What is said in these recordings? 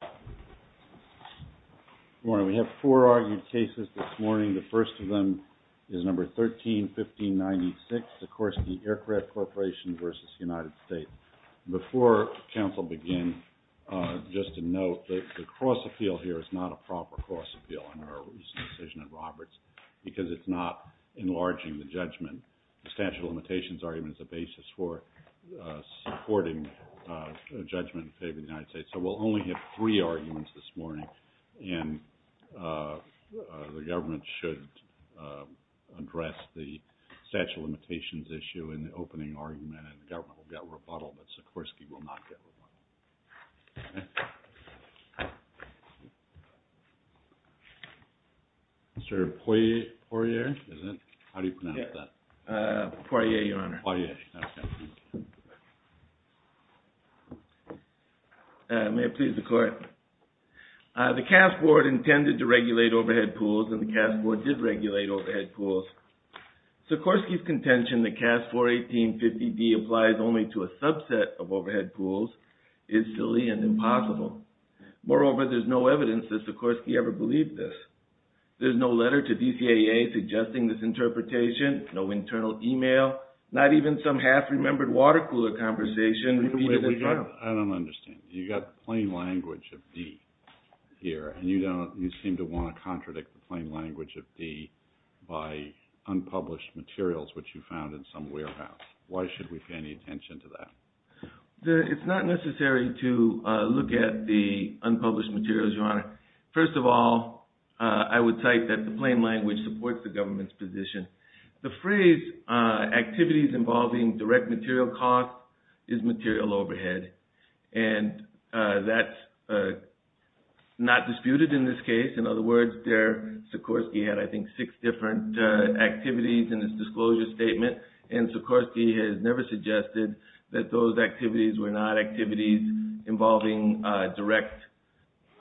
Good morning. We have four argued cases this morning. The first of them is number 13-1596, Sikorsky Aircraft Corporation v. United States. Before council begins, just to note that the cross-appeal here is not a proper cross-appeal in our recent decision at Roberts because it's not enlarging the judgment. The statute of limitations argument is the basis for supporting judgment in favor of the United States. So we'll only have three arguments this morning and the government should address the statute of limitations issue in the opening argument and the government will get rebuttal, but Sikorsky will not get rebuttal. Mr. Poirier, is it? How do you pronounce that? Poirier, your honor. Poirier, okay. May it please the court. The CAF board intended to regulate overhead pools and the CAF board did regulate overhead pools. Sikorsky's contention that CAF 418.50D applies only to a subset of overhead pools is silly and impossible. Moreover, there's no evidence that Sikorsky ever believed this. There's no letter to DCAA suggesting this interpretation, no internal email, not even some half-remembered water cooler conversation. I don't understand. You got plain language of D here and you seem to want to contradict the plain language of D by unpublished materials which you found in some warehouse. Why should we pay any attention to that? It's not necessary to look at the unpublished materials, your honor. First of all, I would cite that the plain language supports the government's position. The phrase activities involving direct material costs is material overhead and that's not disputed in this case. In other words, Sikorsky had I think six different activities in his disclosure statement and Sikorsky has never suggested that those activities were not activities involving direct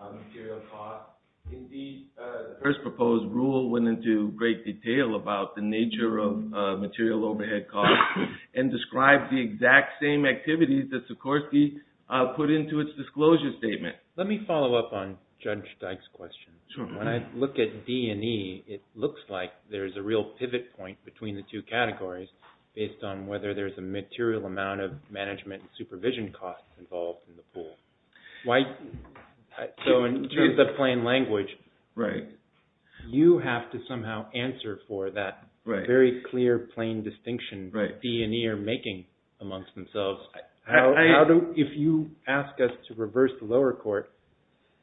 material costs. Indeed, the first proposed rule went into great detail about the nature of material overhead costs and described the exact same activities that Sikorsky put into its disclosure statement. Let me follow up on Judge Dyke's question. When I look at D and E, it looks like there's a real pivot point between the two categories based on whether there's a material amount of management supervision costs involved in the pool. So in terms of plain language, you have to somehow answer for that very clear plain distinction that D and E are making amongst themselves. If you ask us to reverse the lower court,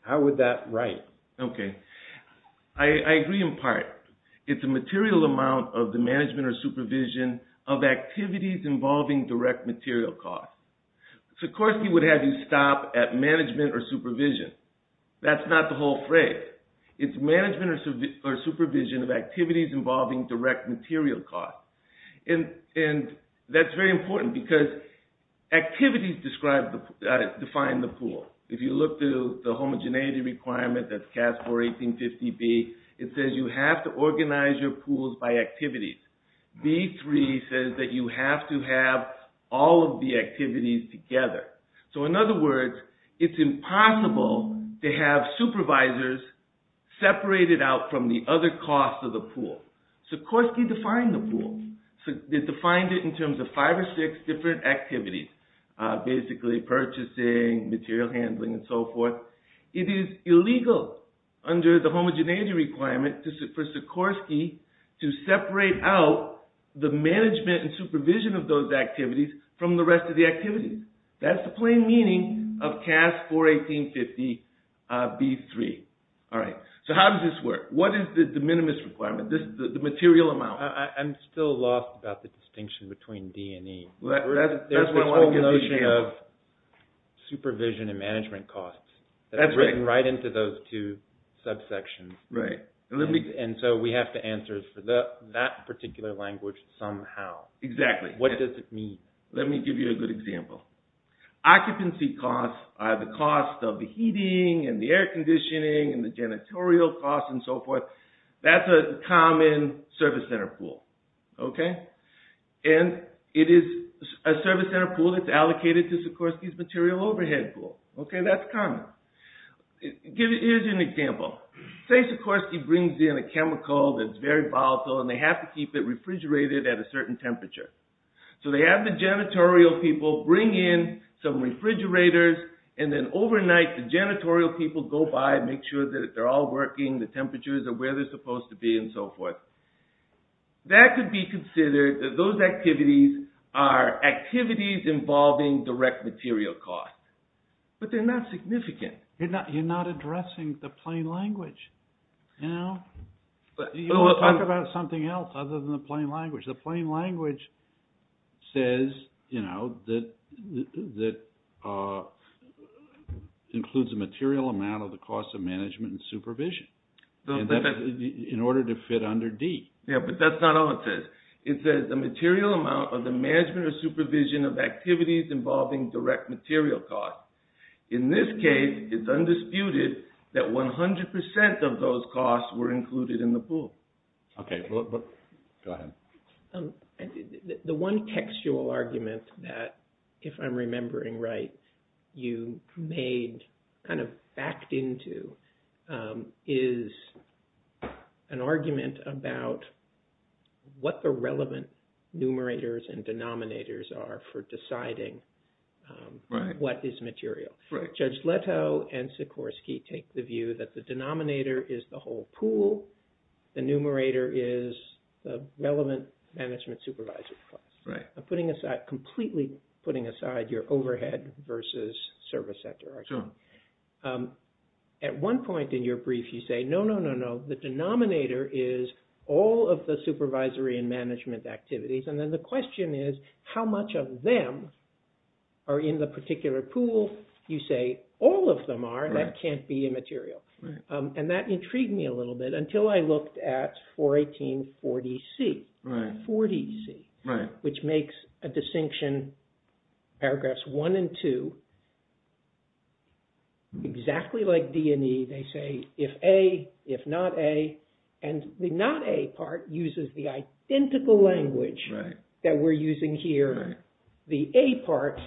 how would that write? Okay. I agree in part. It's a material amount of the management or supervision of activities involving direct material costs. Sikorsky would have you stop at management or supervision. That's not the whole phrase. It's management or supervision of activities involving direct material costs. That's very important because activities define the pool. If you look to the homogeneity requirement that's CAS 4-1850B, it says you have to organize your pools by activities. B3 says that you have to have all of the activities together. So in other words, it's impossible to have supervisors separated out from the other costs of the pool. Sikorsky defined the pool. They defined it in terms of five or six different activities, basically purchasing, material handling, and so forth. It is illegal under the homogeneity requirement for Sikorsky to separate out the management and supervision of those activities from the rest of the activities. That's the plain meaning of CAS 4-1850B3. All right. So how does this work? What is the de minimis requirement, the material amount? I'm still lost about the distinction between D and E. There's this whole notion of supervision and management costs. That's right. That's written right into those two subsections. Right. And so we have to answer for that particular language somehow. Exactly. What does it mean? Let me give you a good example. Occupancy costs are the cost of the heating and the air conditioning and the janitorial costs and so forth. That's a common service center pool. And it is a service center pool that's allocated to Sikorsky's material overhead pool. That's common. Here's an example. Say Sikorsky brings in a chemical that's very volatile and they have to keep it refrigerated at a certain temperature. So they have the janitorial people bring in some refrigerators and then overnight the janitorial people go by and make sure that they're all working, the temperatures are where they're supposed to be and so forth. That could be considered that those activities are activities involving direct material costs. But they're not significant. You're not addressing the plain language. You talk about something else other than the plain language. The plain language says that includes a material amount of the cost of management and supervision in order to fit under D. Yeah, but that's not all it says. It says the material amount of the management or supervision of activities involving direct material costs. In this case, it's undisputed that 100% of those costs were included in the pool. Go ahead. The one textual argument that, if I'm remembering right, you made kind of backed into is an argument about what the relevant numerators and denominators are for deciding what is material. Judge Leto and Sikorsky take the view that the denominator is the whole pool, the numerator is the relevant management supervisory costs. I'm putting aside, completely putting aside your overhead versus service sector argument. At one point in your brief, you say, no, no, no, no. The denominator is all of the supervisory and management activities. And then the question is, how much of them are in the particular pool? You say, all of them are. That can't be a material. And that intrigued me a little bit until I looked at 41840C, which makes a distinction, paragraphs one and two, exactly like D&E. They say, if A, if not A. And the not A part uses the identical language that we're using here. The A part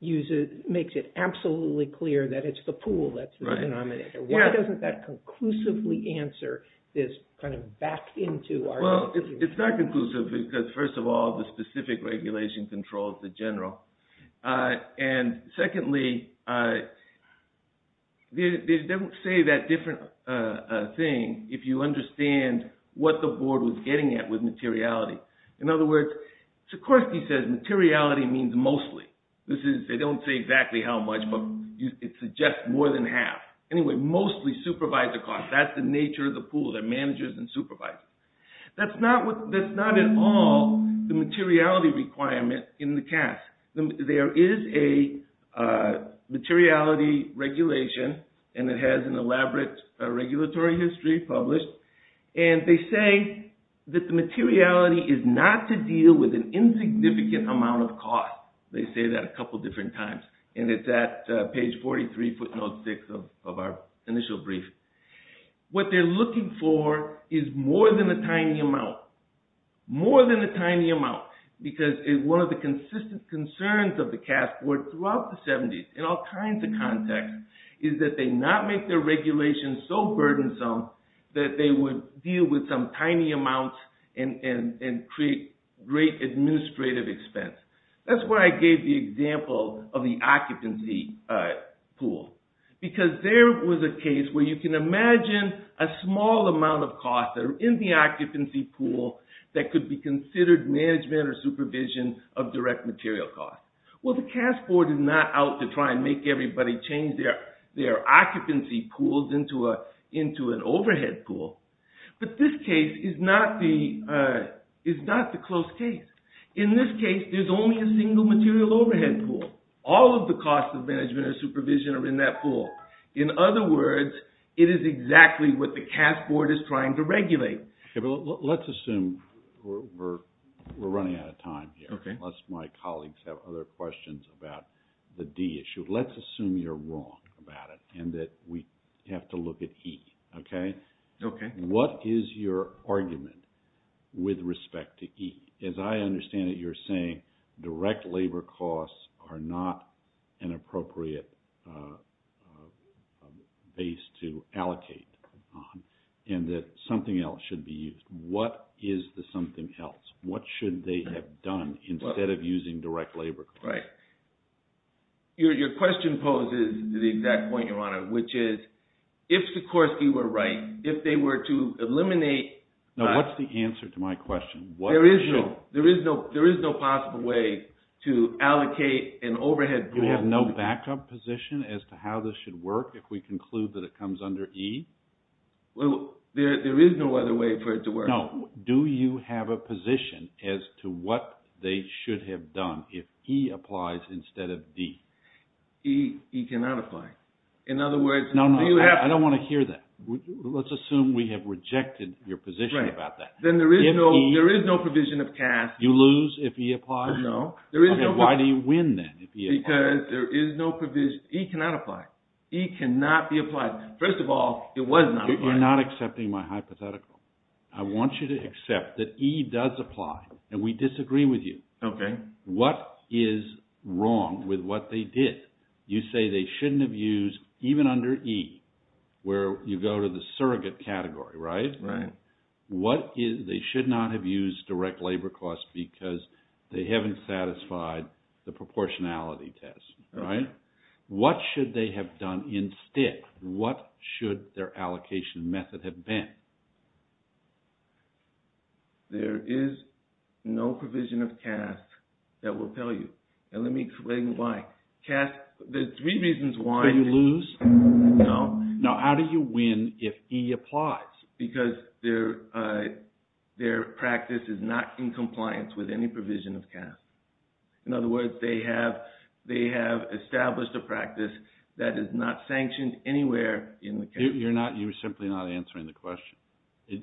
makes it absolutely clear that it's the pool that's the denominator. Why doesn't that conclusively answer this kind of backed into argument? It's not conclusive because, first of all, the specific regulation controls the general. And secondly, they don't say that different thing if you understand what the board was getting at with materiality. In other words, Sikorsky says materiality means mostly. They don't say exactly how much, but it suggests more than half. Anyway, mostly supervisor costs. That's the nature of the pool, the managers and supervisors. That's not at all the materiality requirement in the CAS. There is a materiality regulation, and it has an elaborate regulatory history published. And they say that the materiality is not to deal with an insignificant amount of cost. They say that a couple different times, and it's at page 43, footnote 6 of our initial brief. What they're looking for is more than a tiny amount. More than a tiny amount. Because one of the consistent concerns of the CAS board throughout the 70s, in all kinds of context, is that they not make their regulations so burdensome that they would deal with some tiny amount and create great administrative expense. That's why I gave the example of the occupancy pool. Because there was a case where you can imagine a small amount of cost that are in the occupancy pool that could be considered management or supervision of direct material costs. Well, the CAS board is not out to try and make everybody change their occupancy pools into an overhead pool. But this case is not the close case. In this case, there's only a single material overhead pool. All of the costs of management or supervision are in that pool. In other words, it is exactly what the CAS board is trying to regulate. Let's assume we're running out of time here, unless my colleagues have other questions about the D issue. Let's assume you're wrong about it and that we have to look at E. What is your argument with respect to E? As I understand it, you're saying direct labor costs are not an appropriate base to allocate on and that something else should be used. What is the something else? What should they have done instead of using direct labor costs? Right. Your question poses the exact point, Your Honor, which is, if Sikorsky were right, if they were to eliminate... Now, what's the answer to my question? There is no possible way to allocate an overhead pool... Do we have no backup position as to how this should work if we conclude that it comes under E? Well, there is no other way for it to work. No. Do you have a position as to what they should have done if E applies instead of D? E cannot apply. In other words... No, no. I don't want to hear that. Let's assume we have rejected your position about that. Then there is no provision of CAS... You lose if E applies? No. There is no... Why do you win then if E applies? Because there is no provision... E cannot apply. E cannot be applied. First of all, it was not applied. You're not accepting my hypothetical. I want you to accept that E does apply, and we disagree with you. What is wrong with what they did? You say they shouldn't have used, even under E, where you go to the surrogate category, right? They should not have used direct labor costs because they haven't satisfied the proportionality test, right? What should they have done instead? What should their allocation method have been? There is no provision of CAS that will tell you. And let me explain why. There are three reasons why... Do you lose? No. Now, how do you win if E applies? Because their practice is not in compliance with any provision of CAS. In other words, they have established a practice that is not sanctioned anywhere in the category. You're simply not answering the question. Do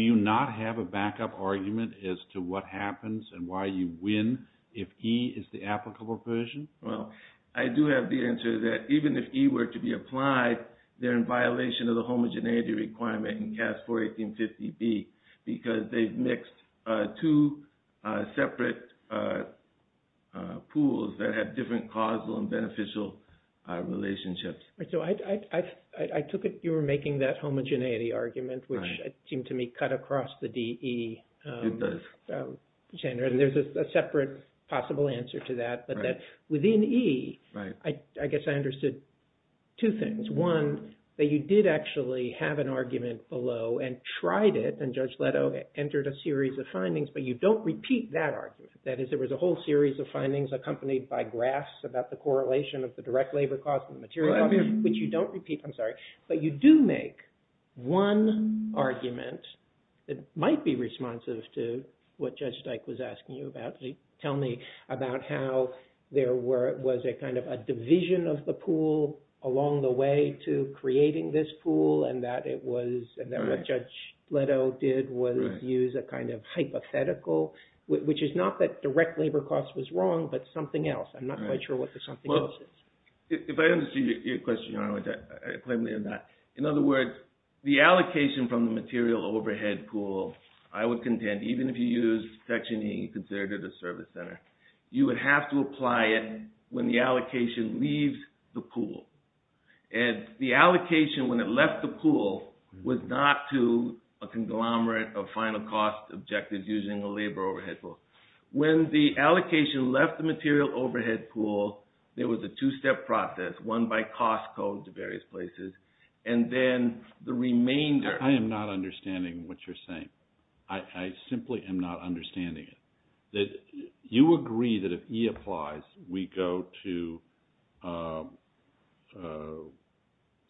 you not have a backup argument as to what happens and why you win if E is the applicable provision? Well, I do have the answer that even if E were to be applied, they're in violation of the homogeneity requirement in CAS 41850B because they've mixed two separate pools that have different causal and beneficial relationships. So I took it you were making that homogeneity argument, which seemed to me cut across the DE. It does. And there's a separate possible answer to that. But within E, I guess I understood two things. One, that you did actually have an argument below and tried it, and Judge Leto entered a series of findings, but you don't repeat that argument. That is, there was a whole series of findings accompanied by graphs about the correlation of the direct labor cost and the material cost, which you don't repeat. I'm sorry. But you do make one argument that might be responsive to what Judge Dyke was asking you about. You didn't actually tell me about how there was a kind of a division of the pool along the way to creating this pool, and that what Judge Leto did was use a kind of hypothetical, which is not that direct labor cost was wrong, but something else. I'm not quite sure what the something else is. If I understand your question, Your Honor, which I plainly am not. In other words, the allocation from the material overhead pool, I would contend, even if you used Section E, considered it a service center, you would have to apply it when the allocation leaves the pool. And the allocation, when it left the pool, was not to a conglomerate of final cost objectives using a labor overhead pool. When the allocation left the material overhead pool, there was a two-step process, one by cost code to various places, and then the remainder...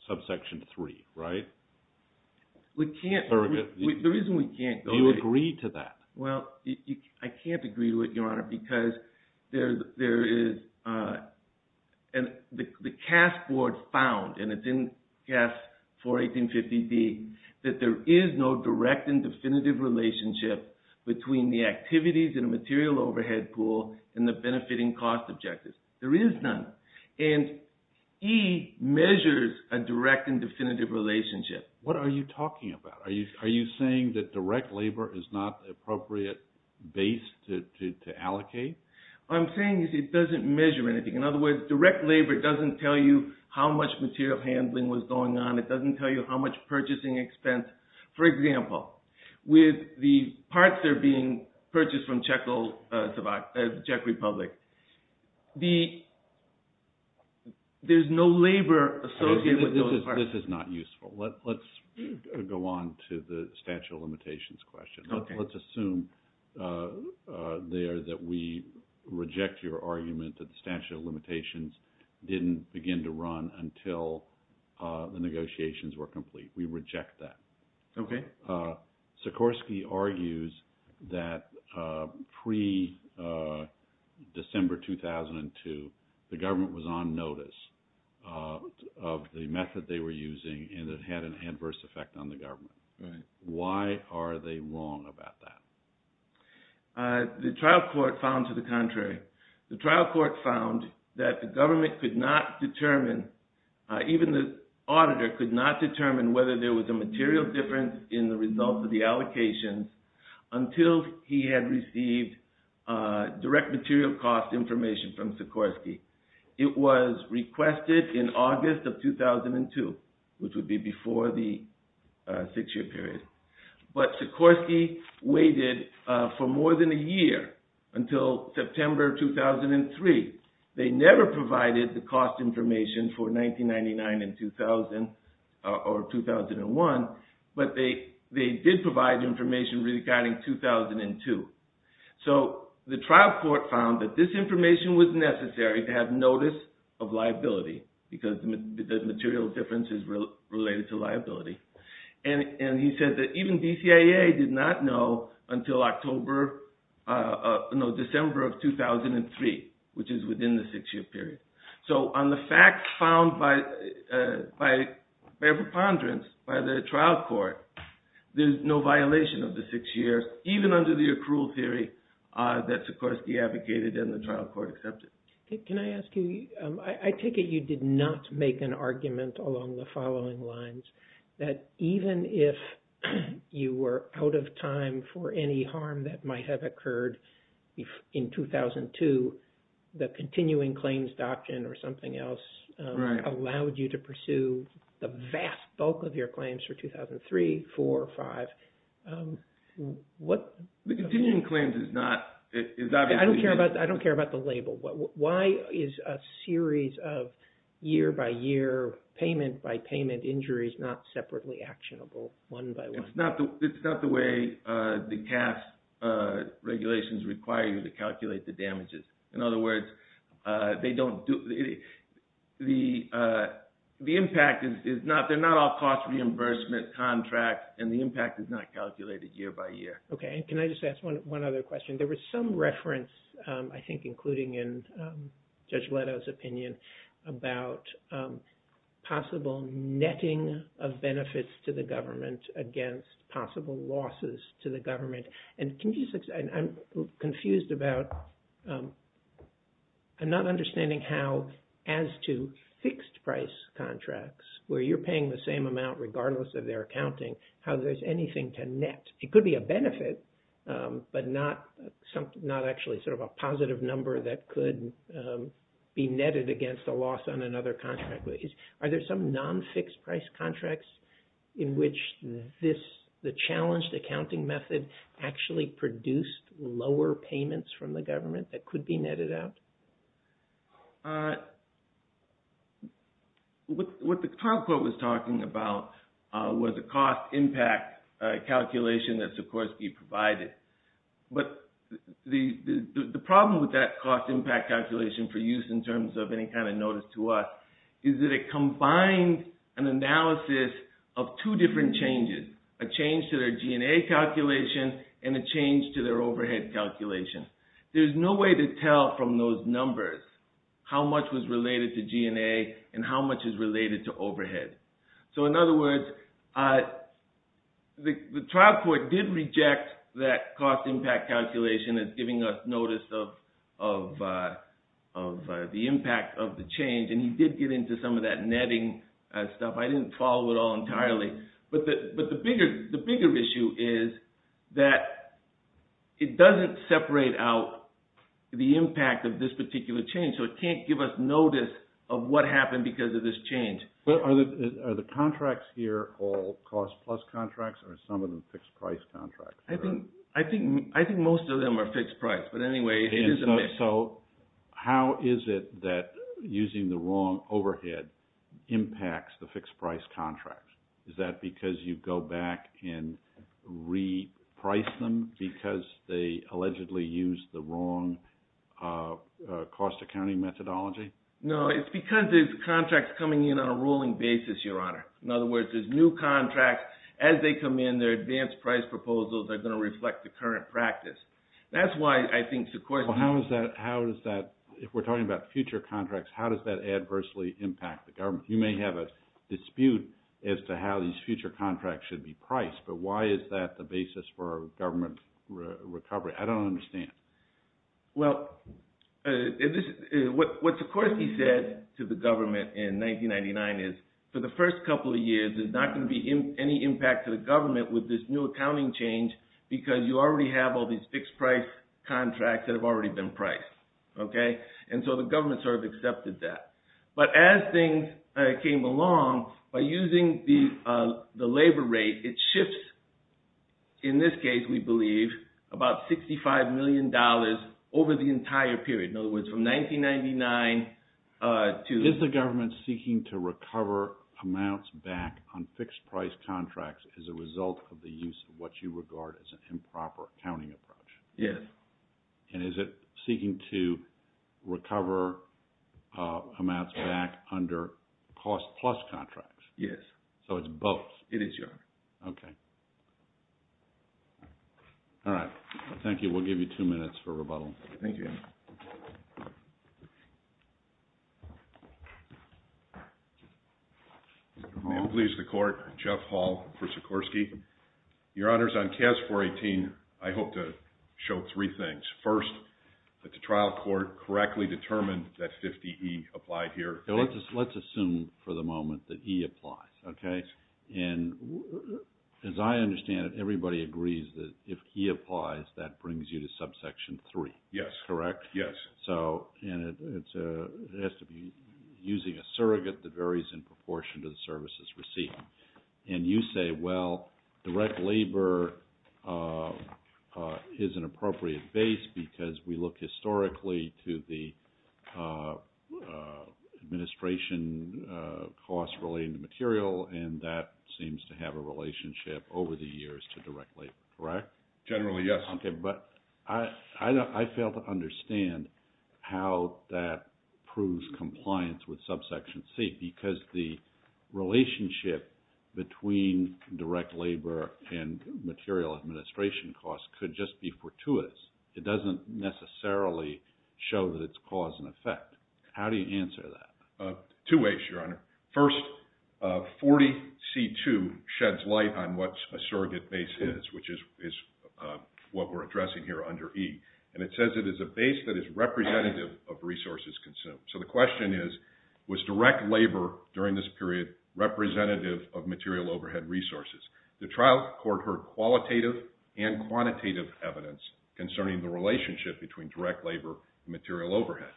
...subsection three, right? We can't... The reason we can't... Do you agree to that? Well, I can't agree to it, Your Honor, because there is... And the CAS board found, and it's in CAS 41850B, that there is no direct and definitive relationship between the activities in a material overhead pool and the benefiting cost objectives. There is none. And E measures a direct and definitive relationship. What are you talking about? Are you saying that direct labor is not the appropriate base to allocate? What I'm saying is it doesn't measure anything. In other words, direct labor doesn't tell you how much material handling was going on. It doesn't tell you how much purchasing expense. For example, with the parts that are being purchased from Czech Republic, there's no labor associated with those parts. This is not useful. Let's go on to the statute of limitations question. Let's assume there that we reject your argument that the statute of limitations didn't begin to run until the negotiations were complete. We reject that. Okay. Sikorsky argues that pre-December 2002, the government was on notice of the method they were using, and it had an adverse effect on the government. Why are they wrong about that? The trial court found to the contrary. The trial court found that the government could not determine, even the auditor could not determine whether there was a material difference in the result of the allocation until he had received direct material cost information from Sikorsky. It was requested in August of 2002, which would be before the six-year period. But Sikorsky waited for more than a year until September 2003. They never provided the cost information for 1999 and 2000 or 2001, but they did provide information regarding 2002. So the trial court found that this information was necessary to have notice of liability, because the material difference is related to liability. And he said that even DCIA did not know until December of 2003, which is within the six-year period. So on the facts found by a preponderance by the trial court, there's no violation of the six years, even under the accrual theory that Sikorsky advocated and the trial court accepted. Can I ask you, I take it you did not make an argument along the following lines, that even if you were out of time for any harm that might have occurred in 2002, the continuing claims doctrine or something else allowed you to pursue the vast bulk of your claims for 2003, 2004, 2005. I don't care about the label. Why is a series of year-by-year, payment-by-payment injuries not separately actionable, one-by-one? It's not the way the CAF regulations require you to calculate the damages. In other words, they don't do – the impact is not – they're not all cost reimbursement contracts, and the impact is not calculated year-by-year. Okay, and can I just ask one other question? There was some reference, I think, including in Judge Leto's opinion, about possible netting of benefits to the government against possible losses to the government. And can you – I'm confused about – I'm not understanding how, as to fixed-price contracts, where you're paying the same amount regardless of their accounting, how there's anything to net. It could be a benefit, but not actually sort of a positive number that could be netted against a loss on another contract. Are there some non-fixed-price contracts in which this – the challenged accounting method actually produced lower payments from the government that could be netted out? What the top quote was talking about was a cost-impact calculation that's, of course, be provided. But the problem with that cost-impact calculation for use in terms of any kind of notice to us is that it combined an analysis of two different changes, a change to their G&A calculation and a change to their overhead calculation. There's no way to tell from those numbers how much was related to G&A and how much is related to overhead. So in other words, the trial court did reject that cost-impact calculation as giving us notice of the impact of the change, and he did get into some of that netting stuff. I didn't follow it all entirely. But the bigger issue is that it doesn't separate out the impact of this particular change, so it can't give us notice of what happened because of this change. But are the contracts here all cost-plus contracts, or are some of them fixed-price contracts? I think most of them are fixed-price. But anyway, it is a mix. How is it that using the wrong overhead impacts the fixed-price contracts? Is that because you go back and reprice them because they allegedly used the wrong cost accounting methodology? No, it's because there's contracts coming in on a rolling basis, Your Honor. In other words, there's new contracts. As they come in, their advanced price proposals are going to reflect the current practice. That's why I think Sequoia— If we're talking about future contracts, how does that adversely impact the government? You may have a dispute as to how these future contracts should be priced, but why is that the basis for a government recovery? I don't understand. Well, what Sikorsky said to the government in 1999 is, for the first couple of years, there's not going to be any impact to the government with this new accounting change because you already have all these fixed-price contracts that have already been priced. And so the government sort of accepted that. But as things came along, by using the labor rate, it shifts, in this case, we believe, about $65 million over the entire period. In other words, from 1999 to— Is the government seeking to recover amounts back on fixed-price contracts as a result of the use of what you regard as an improper accounting approach? Yes. And is it seeking to recover amounts back under cost-plus contracts? Yes. So it's both. It is, Your Honor. Okay. All right. Thank you. We'll give you two minutes for rebuttal. Thank you, Your Honor. May it please the Court, Jeff Hall for Sikorsky. Your Honors, on CAS 418, I hope to show three things. First, that the trial court correctly determined that 50E applied here. Let's assume for the moment that E applies, okay? And as I understand it, everybody agrees that if E applies, that brings you to subsection 3. Yes. Correct? Yes. And it has to be using a surrogate that varies in proportion to the services received. And you say, well, direct labor is an appropriate base because we look historically to the administration costs relating to material, and that seems to have a relationship over the years to direct labor, correct? Generally, yes. Okay. But I fail to understand how that proves compliance with subsection C because the relationship between direct labor and material administration costs could just be fortuitous. It doesn't necessarily show that it's cause and effect. How do you answer that? Two ways, Your Honor. First, 40C2 sheds light on what a surrogate base is, which is what we're addressing here under E. And it says it is a base that is representative of resources consumed. So the question is, was direct labor during this period representative of material overhead resources? The trial court heard qualitative and quantitative evidence concerning the relationship between direct labor and material overhead.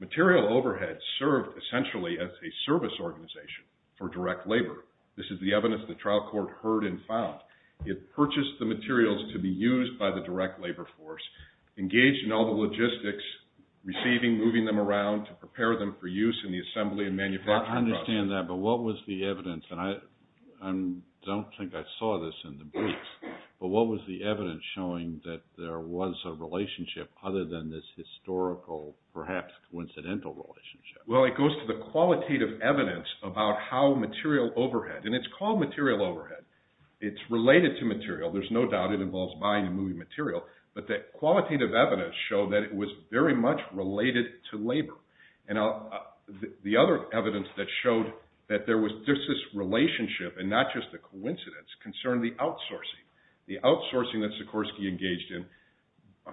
Material overhead served essentially as a service organization for direct labor. This is the evidence the trial court heard and found. It purchased the materials to be used by the direct labor force, engaged in all the logistics, receiving, moving them around to prepare them for use in the assembly and manufacturing process. I understand that, but what was the evidence, and I don't think I saw this in the briefs, but what was the evidence showing that there was a relationship other than this historical, perhaps coincidental relationship? Well, it goes to the qualitative evidence about how material overhead, and it's called material overhead. It's related to material. There's no doubt it involves buying and moving material, but the qualitative evidence showed that it was very much related to labor. And the other evidence that showed that there was just this relationship, and not just a coincidence, concerned the outsourcing. The outsourcing that Sikorsky engaged in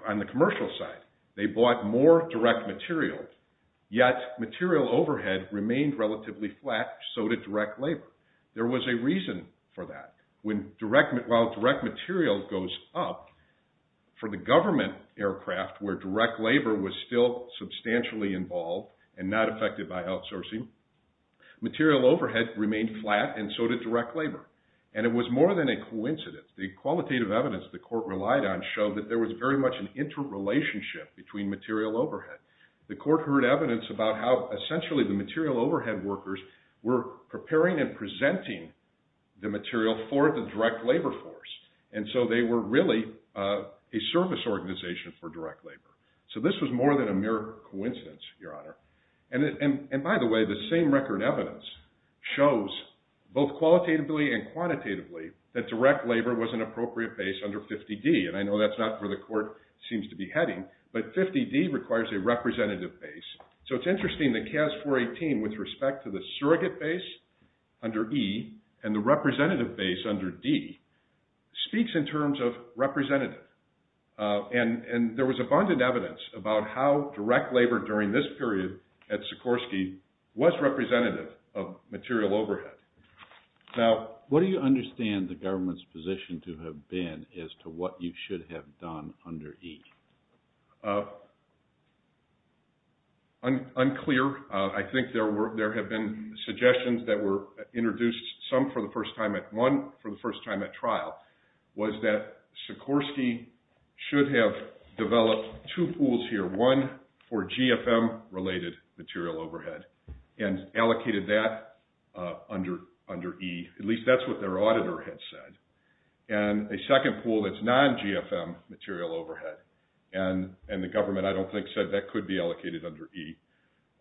on the commercial side. They bought more direct material, yet material overhead remained relatively flat, so did direct labor. There was a reason for that. While direct material goes up, for the government aircraft where direct labor was still substantially involved and not affected by outsourcing, material overhead remained flat and so did direct labor. And it was more than a coincidence. The qualitative evidence the court relied on showed that there was very much an interrelationship between material overhead. The court heard evidence about how essentially the material overhead workers were preparing and presenting the material for the direct labor force. And so they were really a service organization for direct labor. So this was more than a mere coincidence, Your Honor. And by the way, the same record evidence shows both qualitatively and quantitatively that direct labor was an appropriate base under 50D. And I know that's not where the court seems to be heading, but 50D requires a representative base. So it's interesting that CAS 418 with respect to the surrogate base under E and the representative base under D speaks in terms of representative. And there was abundant evidence about how direct labor during this period at Sikorsky was representative of material overhead. Now what do you understand the government's position to have been as to what you should have done under E? Unclear. I think there have been suggestions that were introduced, some for the first time at one, for the first time at trial, was that Sikorsky should have developed two pools here. One for GFM related material overhead and allocated that under E. At least that's what their auditor had said. And a second pool that's non-GFM material overhead. And the government, I don't think, said that could be allocated under E.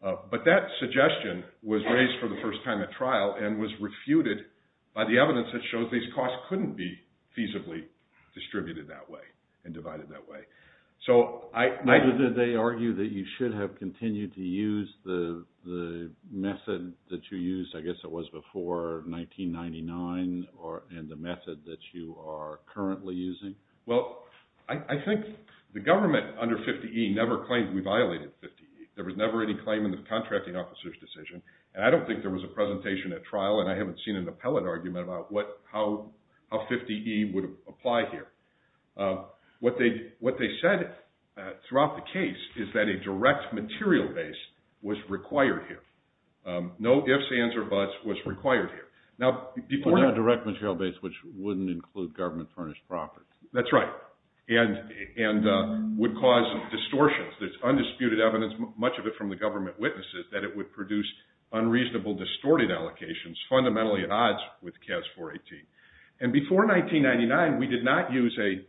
But that suggestion was raised for the first time at trial and was refuted by the evidence that shows these costs couldn't be feasibly distributed that way and divided that way. Neither did they argue that you should have continued to use the method that you used, I guess it was before 1999, and the method that you are currently using? Well, I think the government under 50E never claimed we violated 50E. There was never any claim in the contracting officer's decision. And I don't think there was a presentation at trial and I haven't seen an appellate argument about how 50E would apply here. What they said throughout the case is that a direct material base was required here. No ifs, ands, or buts was required here. A direct material base which wouldn't include government furnished property. That's right. And would cause distortions. There's undisputed evidence, much of it from the government witnesses, that it would produce unreasonable distorted allocations fundamentally at odds with CAS 418. And before 1999 we did not use a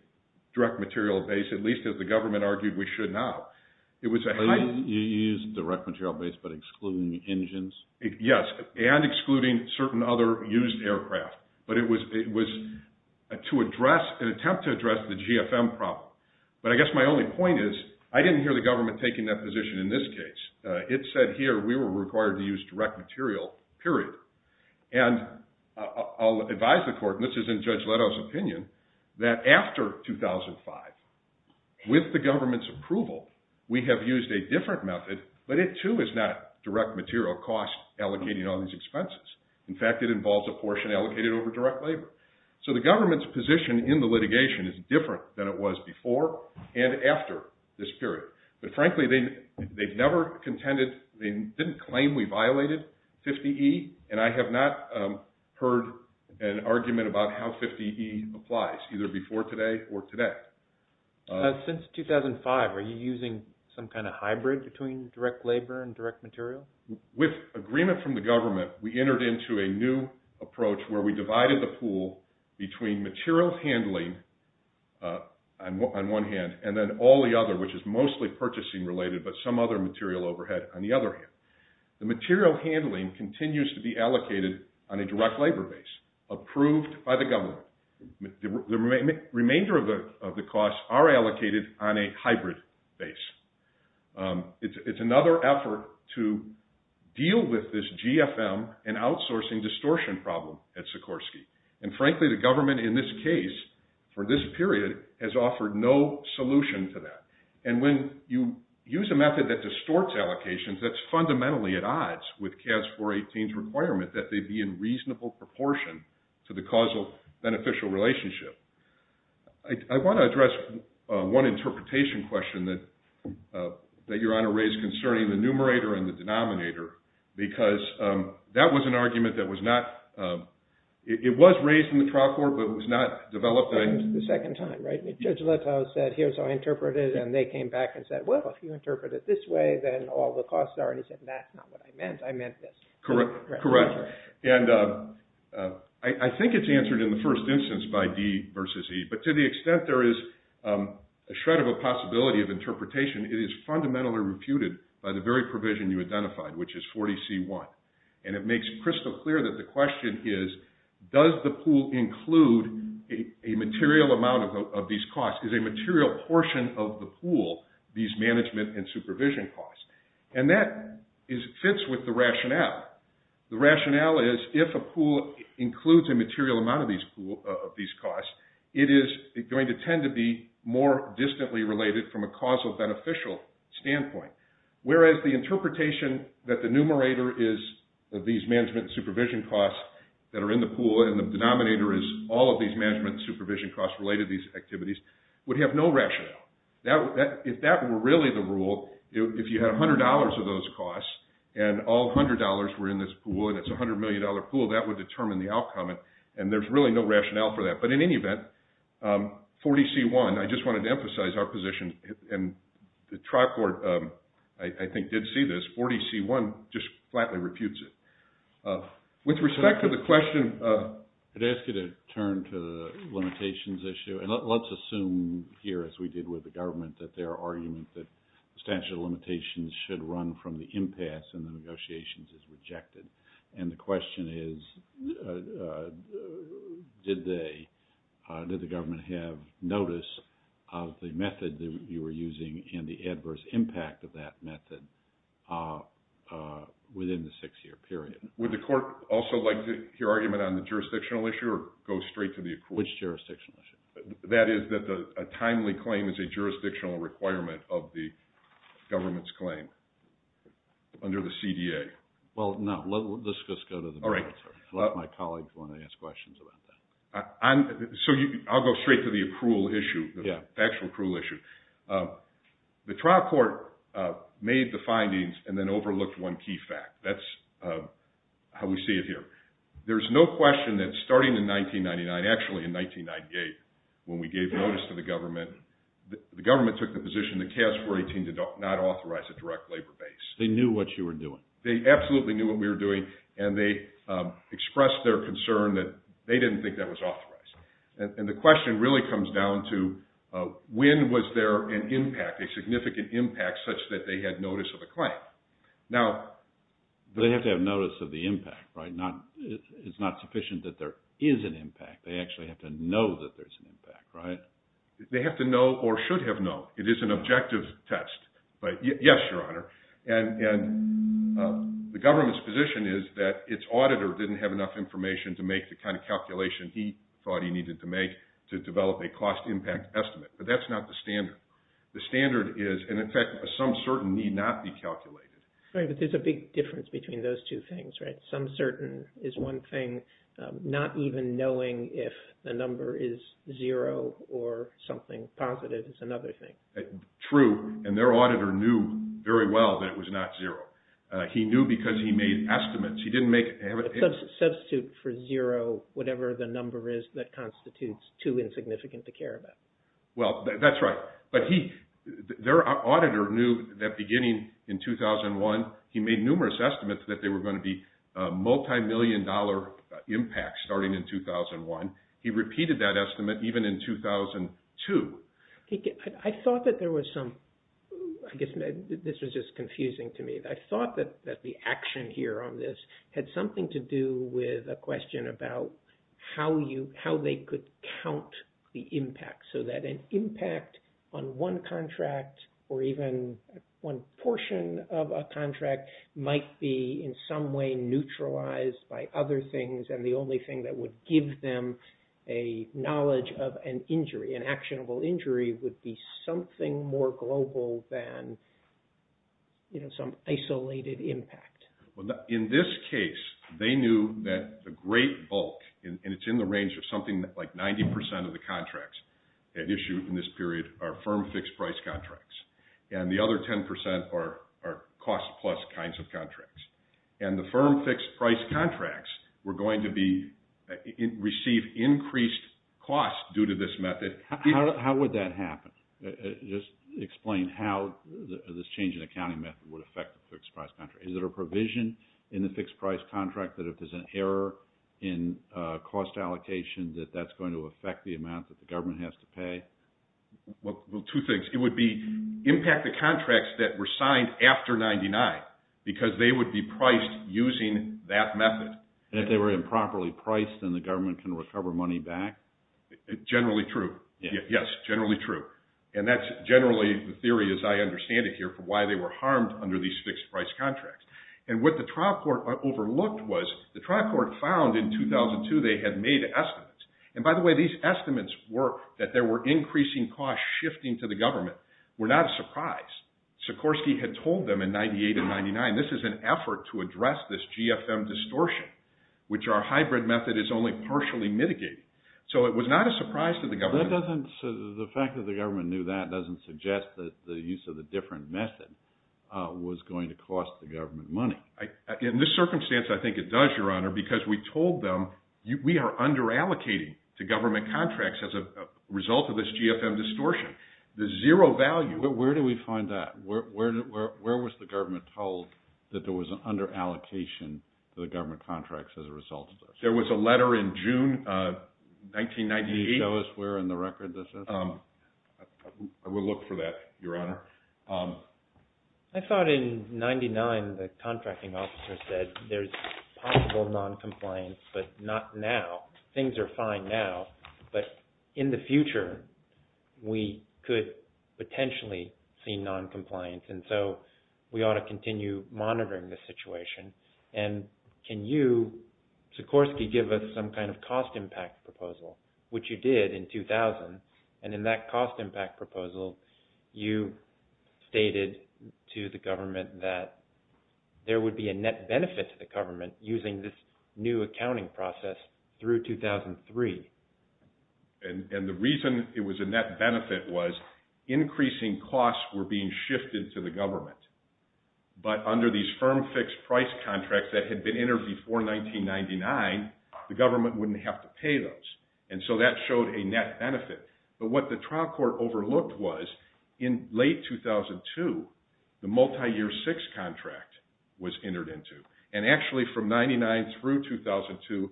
direct material base, at least as the government argued we should now. You used direct material base but excluding engines? Yes, and excluding certain other used aircraft. But it was to address, an attempt to address the GFM problem. But I guess my only point is, I didn't hear the government taking that position in this case. It said here we were required to use direct material, period. And I'll advise the court, and this is in Judge Leto's opinion, that after 2005, with the government's approval, we have used a different method. But it too is not direct material cost allocating all these expenses. In fact, it involves a portion allocated over direct labor. So the government's position in the litigation is different than it was before and after this period. But frankly, they've never contended, they didn't claim we violated 50E, and I have not heard an argument about how 50E applies, either before today or today. Since 2005, are you using some kind of hybrid between direct labor and direct material? With agreement from the government, we entered into a new approach where we divided the pool between material handling on one hand, and then all the other, which is mostly purchasing related, but some other material overhead on the other hand. The material handling continues to be allocated on a direct labor base, approved by the government. The remainder of the costs are allocated on a hybrid base. It's another effort to deal with this GFM and outsourcing distortion problem at Sikorsky. And frankly, the government in this case, for this period, has offered no solution to that. And when you use a method that distorts allocations, that's fundamentally at odds with CAS 418's requirement that they be in reasonable proportion to the causal beneficial relationship. I want to address one interpretation question that Your Honor raised concerning the numerator and the denominator, because that was an argument that was not – it was raised in the trial court, but it was not developed – Judge Letow said, here's how I interpret it, and they came back and said, well, if you interpret it this way, then all the costs are – and he said, that's not what I meant. I meant this. Correct. And I think it's answered in the first instance by D versus E, but to the extent there is a shred of a possibility of interpretation, it is fundamentally reputed by the very provision you identified, which is 40C1. And it makes crystal clear that the question is, does the pool include a material amount of these costs? Is a material portion of the pool these management and supervision costs? And that fits with the rationale. The rationale is, if a pool includes a material amount of these costs, it is going to tend to be more distantly related from a causal beneficial standpoint. Whereas the interpretation that the numerator is these management and supervision costs that are in the pool and the denominator is all of these management and supervision costs related to these activities would have no rationale. If that were really the rule, if you had $100 of those costs and all $100 were in this pool and it's a $100 million pool, that would determine the outcome, and there's really no rationale for that. But in any event, 40C1, I just wanted to emphasize our position, and the trial court, I think, did see this. 40C1 just flatly reputes it. With respect to the question… I'd ask you to turn to the limitations issue. And let's assume here, as we did with the government, that their argument that the statute of limitations should run from the impasse and the negotiations is rejected. And the question is, did the government have notice of the method that you were using and the adverse impact of that method within the six-year period? Would the court also like to hear argument on the jurisdictional issue or go straight to the accrual? Which jurisdictional issue? That is, that a timely claim is a jurisdictional requirement of the government's claim under the CDA. Well, no. Let's just go to the… All right. My colleagues want to ask questions about that. So I'll go straight to the accrual issue, the actual accrual issue. The trial court made the findings and then overlooked one key fact. That's how we see it here. There's no question that starting in 1999, actually in 1998, when we gave notice to the government, the government took the position that KS-418 did not authorize a direct labor base. They knew what you were doing. They absolutely knew what we were doing, and they expressed their concern that they didn't think that was authorized. And the question really comes down to when was there an impact, a significant impact such that they had notice of a claim. Now… They have to have notice of the impact, right? It's not sufficient that there is an impact. They actually have to know that there's an impact, right? They have to know or should have known. It is an objective test. Yes, Your Honor. And the government's position is that its auditor didn't have enough information to make the kind of calculation he thought he needed to make to develop a cost impact estimate. But that's not the standard. The standard is, and in fact, a some certain need not be calculated. Right, but there's a big difference between those two things, right? Some certain is one thing, not even knowing if the number is zero or something positive is another thing. True, and their auditor knew very well that it was not zero. He knew because he made estimates. He didn't make… Substitute for zero whatever the number is that constitutes too insignificant to care about. Well, that's right. But he, their auditor knew that beginning in 2001, he made numerous estimates that they were going to be multimillion dollar impacts starting in 2001. He repeated that estimate even in 2002. I thought that there was some, I guess, this was just confusing to me. I thought that the action here on this had something to do with a question about how they could count the impact. So that an impact on one contract or even one portion of a contract might be in some way neutralized by other things. And the only thing that would give them a knowledge of an injury, an actionable injury, would be something more global than some isolated impact. In this case, they knew that the great bulk, and it's in the range of something like 90% of the contracts that issued in this period are firm fixed price contracts. And the other 10% are cost plus kinds of contracts. And the firm fixed price contracts were going to receive increased costs due to this method. How would that happen? Just explain how this change in accounting method would affect the fixed price contract. Is there a provision in the fixed price contract that if there's an error in cost allocation that that's going to affect the amount that the government has to pay? Well, two things. It would be impacted contracts that were signed after 99 because they would be priced using that method. And if they were improperly priced, then the government can recover money back? Generally true. Yes, generally true. And that's generally the theory as I understand it here for why they were harmed under these fixed price contracts. And what the trial court overlooked was the trial court found in 2002 they had made estimates. And by the way, these estimates were that there were increasing costs shifting to the government. We're not surprised. Sikorsky had told them in 98 and 99, this is an effort to address this GFM distortion, which our hybrid method is only partially mitigating. So it was not a surprise to the government. The fact that the government knew that doesn't suggest that the use of a different method was going to cost the government money. In this circumstance, I think it does, Your Honor, because we told them we are underallocating to government contracts as a result of this GFM distortion. The zero value. Where do we find that? Where was the government told that there was an underallocation to the government contracts as a result of this? There was a letter in June 1998. Can you show us where in the record this is? I will look for that, Your Honor. I thought in 99 the contracting officer said there's possible noncompliance, but not now. Things are fine now. But in the future, we could potentially see noncompliance. And so we ought to continue monitoring the situation. And can you, Sikorsky, give us some kind of cost impact proposal, which you did in 2000. And in that cost impact proposal, you stated to the government that there would be a net benefit to the government using this new accounting process through 2003. And the reason it was a net benefit was increasing costs were being shifted to the government. But under these firm fixed price contracts that had been entered before 1999, the government wouldn't have to pay those. And so that showed a net benefit. But what the trial court overlooked was in late 2002, the multi-year six contract was entered into. And actually from 99 through 2002,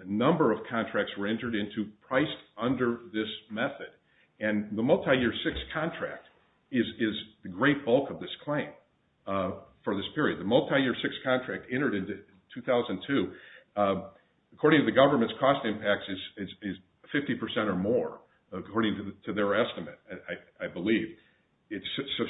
a number of contracts were entered into priced under this method. And the multi-year six contract is the great bulk of this claim for this period. The multi-year six contract entered in 2002. According to the government's cost impacts is 50% or more, according to their estimate, I believe. It's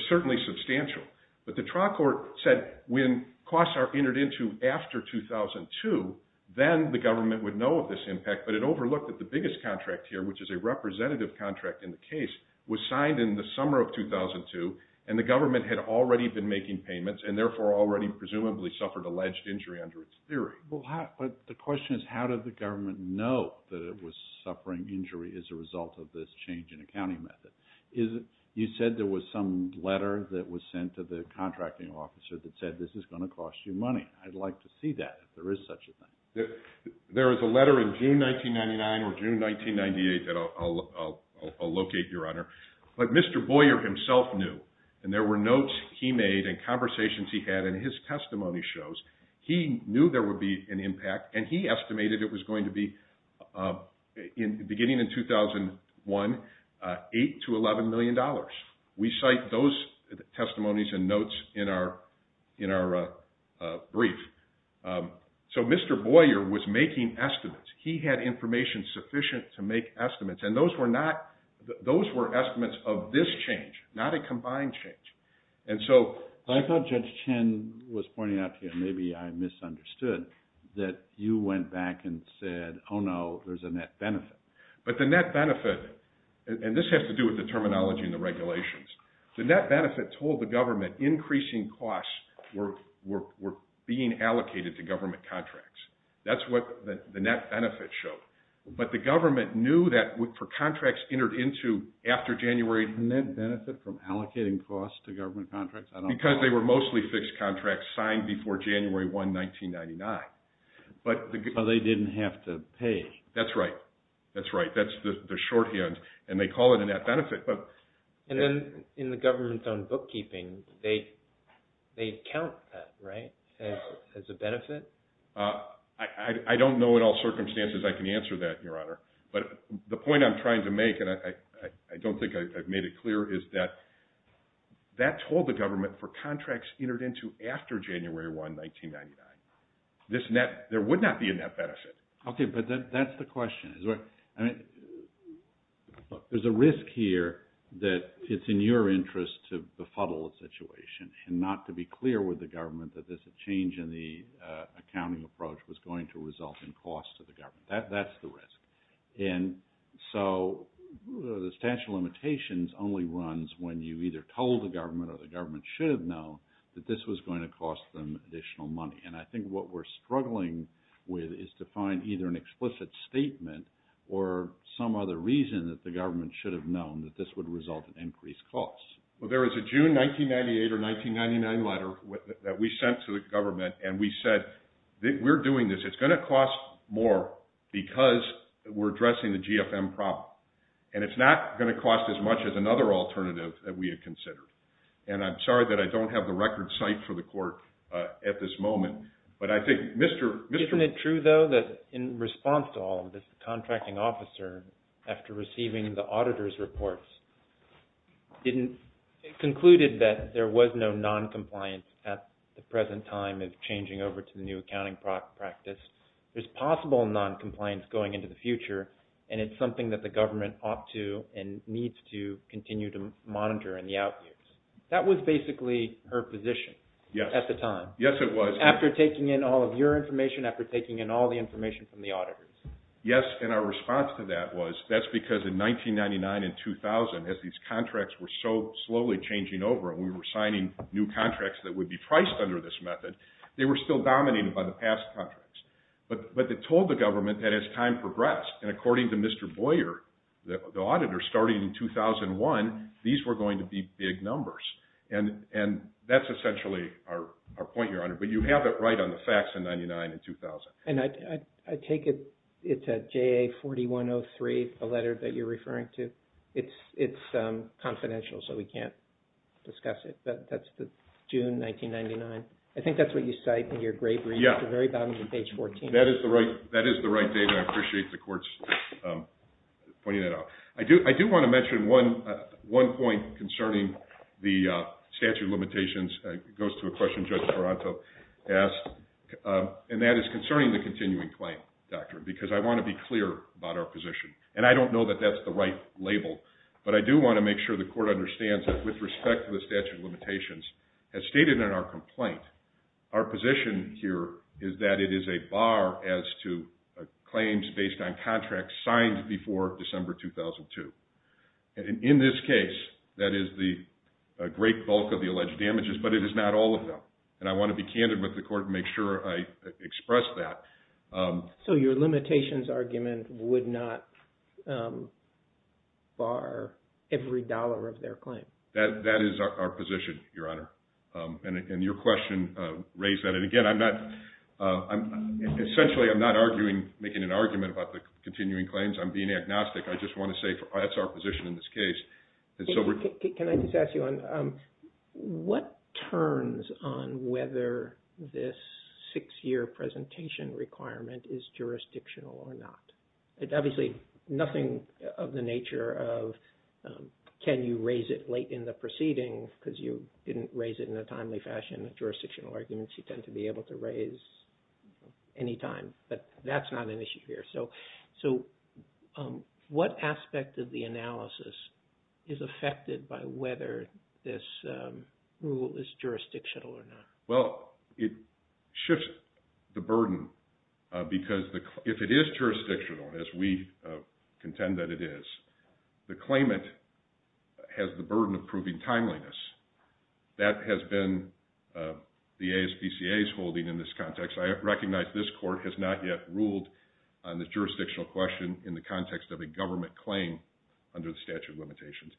certainly substantial. But the trial court said when costs are entered into after 2002, then the government would know of this impact. But it overlooked that the biggest contract here, which is a representative contract in the case, was signed in the summer of 2002. And the government had already been making payments and therefore already presumably suffered alleged injury under its theory. But the question is how did the government know that it was suffering injury as a result of this change in accounting method? You said there was some letter that was sent to the contracting officer that said this is going to cost you money. I'd like to see that if there is such a thing. There is a letter in June 1999 or June 1998 that I'll locate, Your Honor, that Mr. Boyer himself knew. And there were notes he made and conversations he had and his testimony shows he knew there would be an impact. And he estimated it was going to be, beginning in 2001, $8 to $11 million. We cite those testimonies and notes in our brief. So Mr. Boyer was making estimates. He had information sufficient to make estimates. And those were estimates of this change, not a combined change. I thought Judge Chen was pointing out here, maybe I misunderstood, that you went back and said, oh no, there's a net benefit. But the net benefit, and this has to do with the terminology and the regulations, the net benefit told the government increasing costs were being allocated to government contracts. That's what the net benefit showed. But the government knew that for contracts entered into after January... Net benefit from allocating costs to government contracts? Because they were mostly fixed contracts signed before January 1, 1999. So they didn't have to pay. That's right. That's right. That's the shorthand. And they call it a net benefit. And then in the government-owned bookkeeping, they count that, right, as a benefit? I don't know in all circumstances I can answer that, Your Honor. But the point I'm trying to make, and I don't think I've made it clear, is that that told the government for contracts entered into after January 1, 1999, there would not be a net benefit. Okay, but that's the question. There's a risk here that it's in your interest to befuddle the situation and not to be clear with the government that this change in the accounting approach was going to result in costs to the government. That's the risk. And so the statute of limitations only runs when you either told the government or the government should have known that this was going to cost them additional money. And I think what we're struggling with is to find either an explicit statement or some other reason that the government should have known that this would result in increased costs. Well, there was a June 1998 or 1999 letter that we sent to the government, and we said, we're doing this. It's going to cost more because we're addressing the GFM problem. And it's not going to cost as much as another alternative that we had considered. And I'm sorry that I don't have the record site for the court at this moment, but I think Mr. Isn't it true, though, that in response to all of this, the contracting officer, after receiving the auditor's reports, concluded that there was no noncompliance at the present time of changing over to the new accounting practice. There's possible noncompliance going into the future, and it's something that the government ought to and needs to continue to monitor in the out years. That was basically her position at the time. Yes, it was. After taking in all of your information, after taking in all the information from the auditors. Yes, and our response to that was, that's because in 1999 and 2000, as these contracts were so slowly changing over and we were signing new contracts that would be priced under this method, they were still dominated by the past contracts. But they told the government that as time progressed, and according to Mr. Boyer, the auditor, starting in 2001, these were going to be big numbers. And that's essentially our point here, but you have it right on the facts in 1999 and 2000. And I take it it's a JA4103, the letter that you're referring to. It's confidential, so we can't discuss it, but that's June 1999. I think that's what you cite in your grade reading at the very bottom of page 14. That is the right data. I appreciate the court's pointing that out. I do want to mention one point concerning the statute of limitations. It goes to a question Judge Taranto asked, and that is concerning the continuing claim doctrine, because I want to be clear about our position. And I don't know that that's the right label, but I do want to make sure the court understands that with respect to the statute of limitations, as stated in our complaint, our position here is that it is a bar as to claims based on contracts signed before December 2002. And in this case, that is the great bulk of the alleged damages, but it is not all of them. And I want to be candid with the court and make sure I express that. So your limitations argument would not bar every dollar of their claim? That is our position, Your Honor, and your question raised that. And again, essentially I'm not making an argument about the continuing claims. I'm being agnostic. I just want to say that's our position in this case. Can I just ask you, what turns on whether this six-year presentation requirement is jurisdictional or not? Obviously, nothing of the nature of can you raise it late in the proceeding because you didn't raise it in a timely fashion. Jurisdictional arguments you tend to be able to raise any time, but that's not an issue here. So what aspect of the analysis is affected by whether this rule is jurisdictional or not? Well, it shifts the burden because if it is jurisdictional, as we contend that it is, the claimant has the burden of proving timeliness. That has been the ASPCA's holding in this context. I recognize this court has not yet ruled on the jurisdictional question in the context of a government claim under the statute of limitations.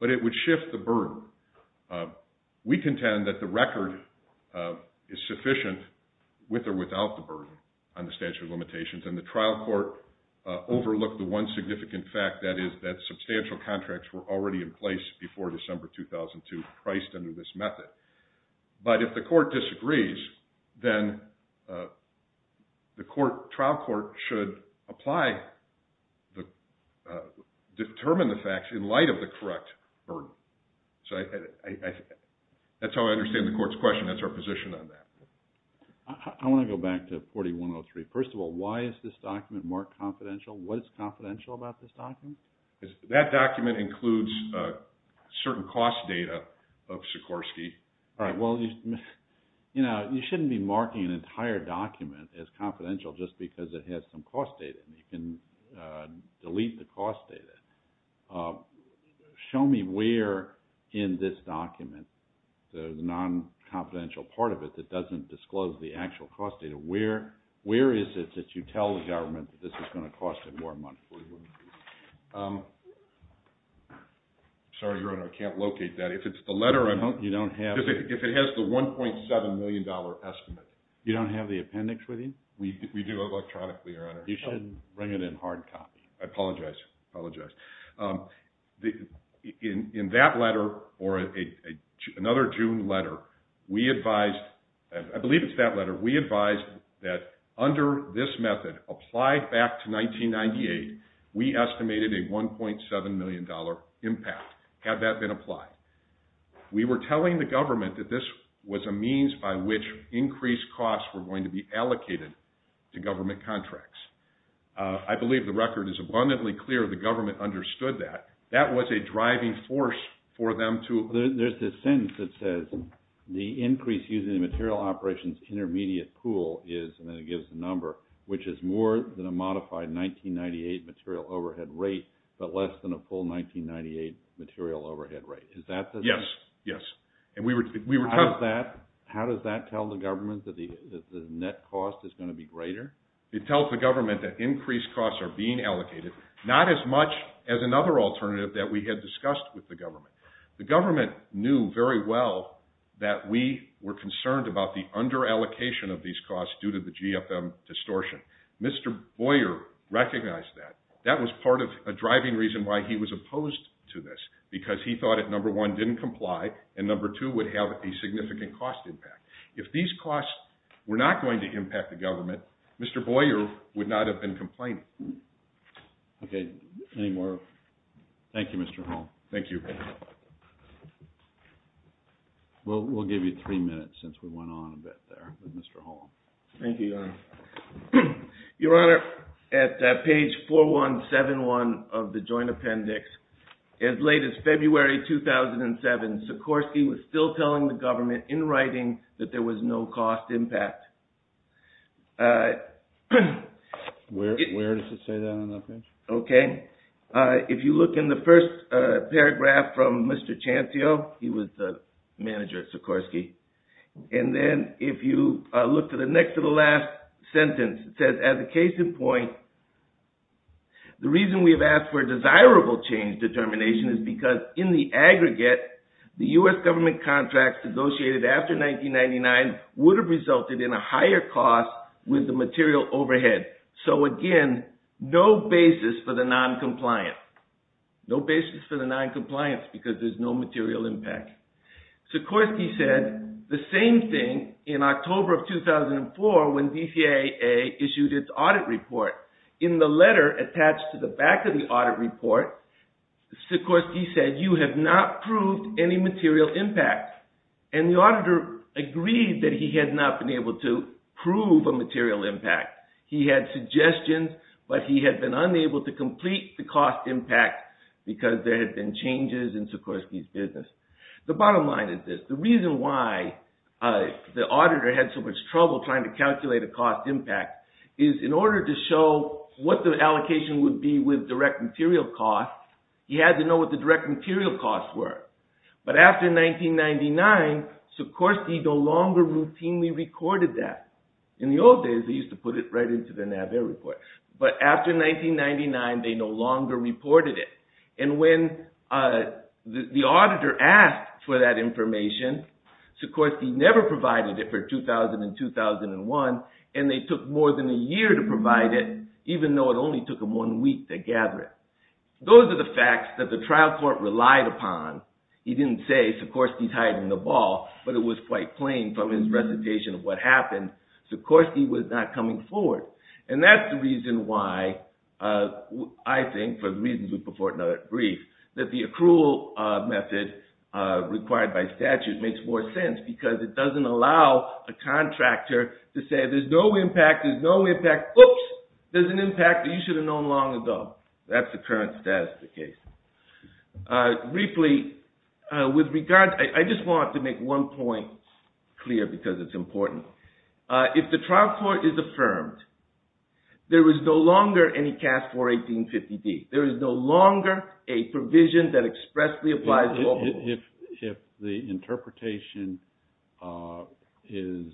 But it would shift the burden. We contend that the record is sufficient with or without the burden on the statute of limitations. And the trial court overlooked the one significant fact, that is that substantial contracts were already in place before December 2002 priced under this method. But if the court disagrees, then the trial court should apply, determine the facts in light of the correct burden. So that's how I understand the court's question. That's our position on that. I want to go back to 4103. First of all, why is this document marked confidential? What is confidential about this document? That document includes certain cost data of Sikorsky. All right, well, you know, you shouldn't be marking an entire document as confidential just because it has some cost data. You can delete the cost data. Show me where in this document, the non-confidential part of it that doesn't disclose the actual cost data, where is it that you tell the government that this is going to cost them more money? Sorry, Your Honor, I can't locate that. If it's the letter, I don't know. You don't have it? If it has the $1.7 million estimate. You don't have the appendix with you? We do electronically, Your Honor. I apologize. I apologize. In that letter, or another June letter, we advised, I believe it's that letter, we advised that under this method, applied back to 1998, we estimated a $1.7 million impact. Had that been applied? We were telling the government that this was a means by which increased costs were going to be allocated to government contracts. I believe the record is abundantly clear the government understood that. That was a driving force for them to There's this sentence that says the increase using the material operations intermediate pool is, and then it gives the number, which is more than a modified 1998 material overhead rate, but less than a full 1998 material overhead rate. Is that the Yes, yes. How does that tell the government that the net cost is going to be greater? It tells the government that increased costs are being allocated, not as much as another alternative that we had discussed with the government. The government knew very well that we were concerned about the underallocation of these costs due to the GFM distortion. Mr. Boyer recognized that. That was part of a driving reason why he was opposed to this, because he thought it, number one, didn't comply, and number two, would have a significant cost impact. If these costs were not going to impact the government, Mr. Boyer would not have been complaining. Okay, any more? Thank you, Mr. Hall. Thank you. We'll give you three minutes since we went on a bit there with Mr. Hall. Thank you, Your Honor. Your Honor, at page 4171 of the joint appendix, as late as February 2007, Sikorsky was still telling the government in writing that there was no cost impact. Where does it say that on that page? Okay. If you look in the first paragraph from Mr. Chantio, he was the manager at Sikorsky, and then if you look to the next to the last sentence, it says, as a case in point, the reason we have asked for a desirable change determination is because in the aggregate, the U.S. government contracts negotiated after 1999 would have resulted in a higher cost with the material overhead. So, again, no basis for the noncompliance. No basis for the noncompliance, because there's no material impact. Sikorsky said the same thing in October of 2004 when DCAA issued its audit report. In the letter attached to the back of the audit report, Sikorsky said, you have not proved any material impact. And the auditor agreed that he had not been able to prove a material impact. He had suggestions, but he had been unable to complete the cost impact because there had been changes in Sikorsky's business. The bottom line is this. The reason why the auditor had so much trouble trying to calculate a cost impact is in order to show what the allocation would be with direct material costs, he had to know what the direct material costs were. But after 1999, Sikorsky no longer routinely recorded that. In the old days, they used to put it right into the NAVAIR report. But after 1999, they no longer reported it. And when the auditor asked for that information, Sikorsky never provided it for 2000 and 2001. And they took more than a year to provide it, even though it only took them one week to gather it. Those are the facts that the trial court relied upon. He didn't say Sikorsky's hiding the ball, but it was quite plain from his recitation of what happened. Sikorsky was not coming forward. And that's the reason why I think, for the reasons we put forth in our brief, that the accrual method required by statute makes more sense, because it doesn't allow a contractor to say, there's no impact, there's no impact, oops, there's an impact that you should have known long ago. That's the current status of the case. Briefly, with regard, I just want to make one point clear because it's important. If the trial court is affirmed, there is no longer any cast for 1850-D. There is no longer a provision that expressly applies to all rules. If the interpretation is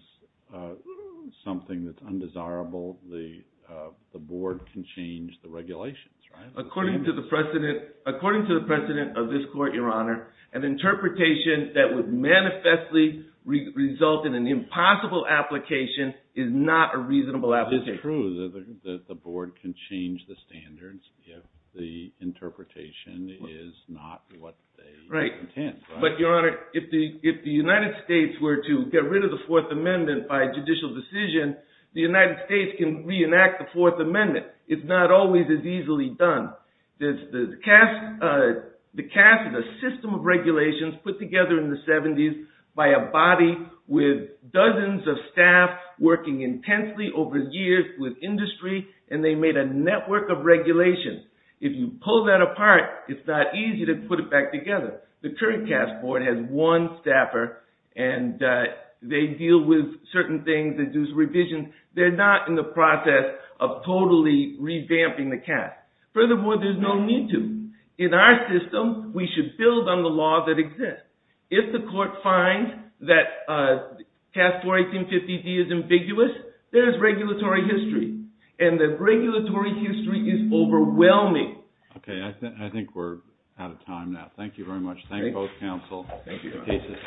something that's undesirable, the board can change the regulations, right? According to the precedent of this court, Your Honor, an interpretation that would manifestly result in an impossible application is not a reasonable application. It's true that the board can change the standards if the interpretation is not what they intend. But, Your Honor, if the United States were to get rid of the Fourth Amendment by judicial decision, the United States can reenact the Fourth Amendment. It's not always as easily done. The CAS is a system of regulations put together in the 70s by a body with dozens of staff working intensely over the years with industry, and they made a network of regulations. If you pull that apart, it's not easy to put it back together. The current CAS board has one staffer, and they deal with certain things, they do some revisions. They're not in the process of totally revamping the CAS. Furthermore, there's no need to. In our system, we should build on the laws that exist. If the court finds that CAS 41850-D is ambiguous, there's regulatory history, and the regulatory history is overwhelming. Okay, I think we're out of time now. Thank you very much. Thank you both, counsel. Thank you, Your Honor.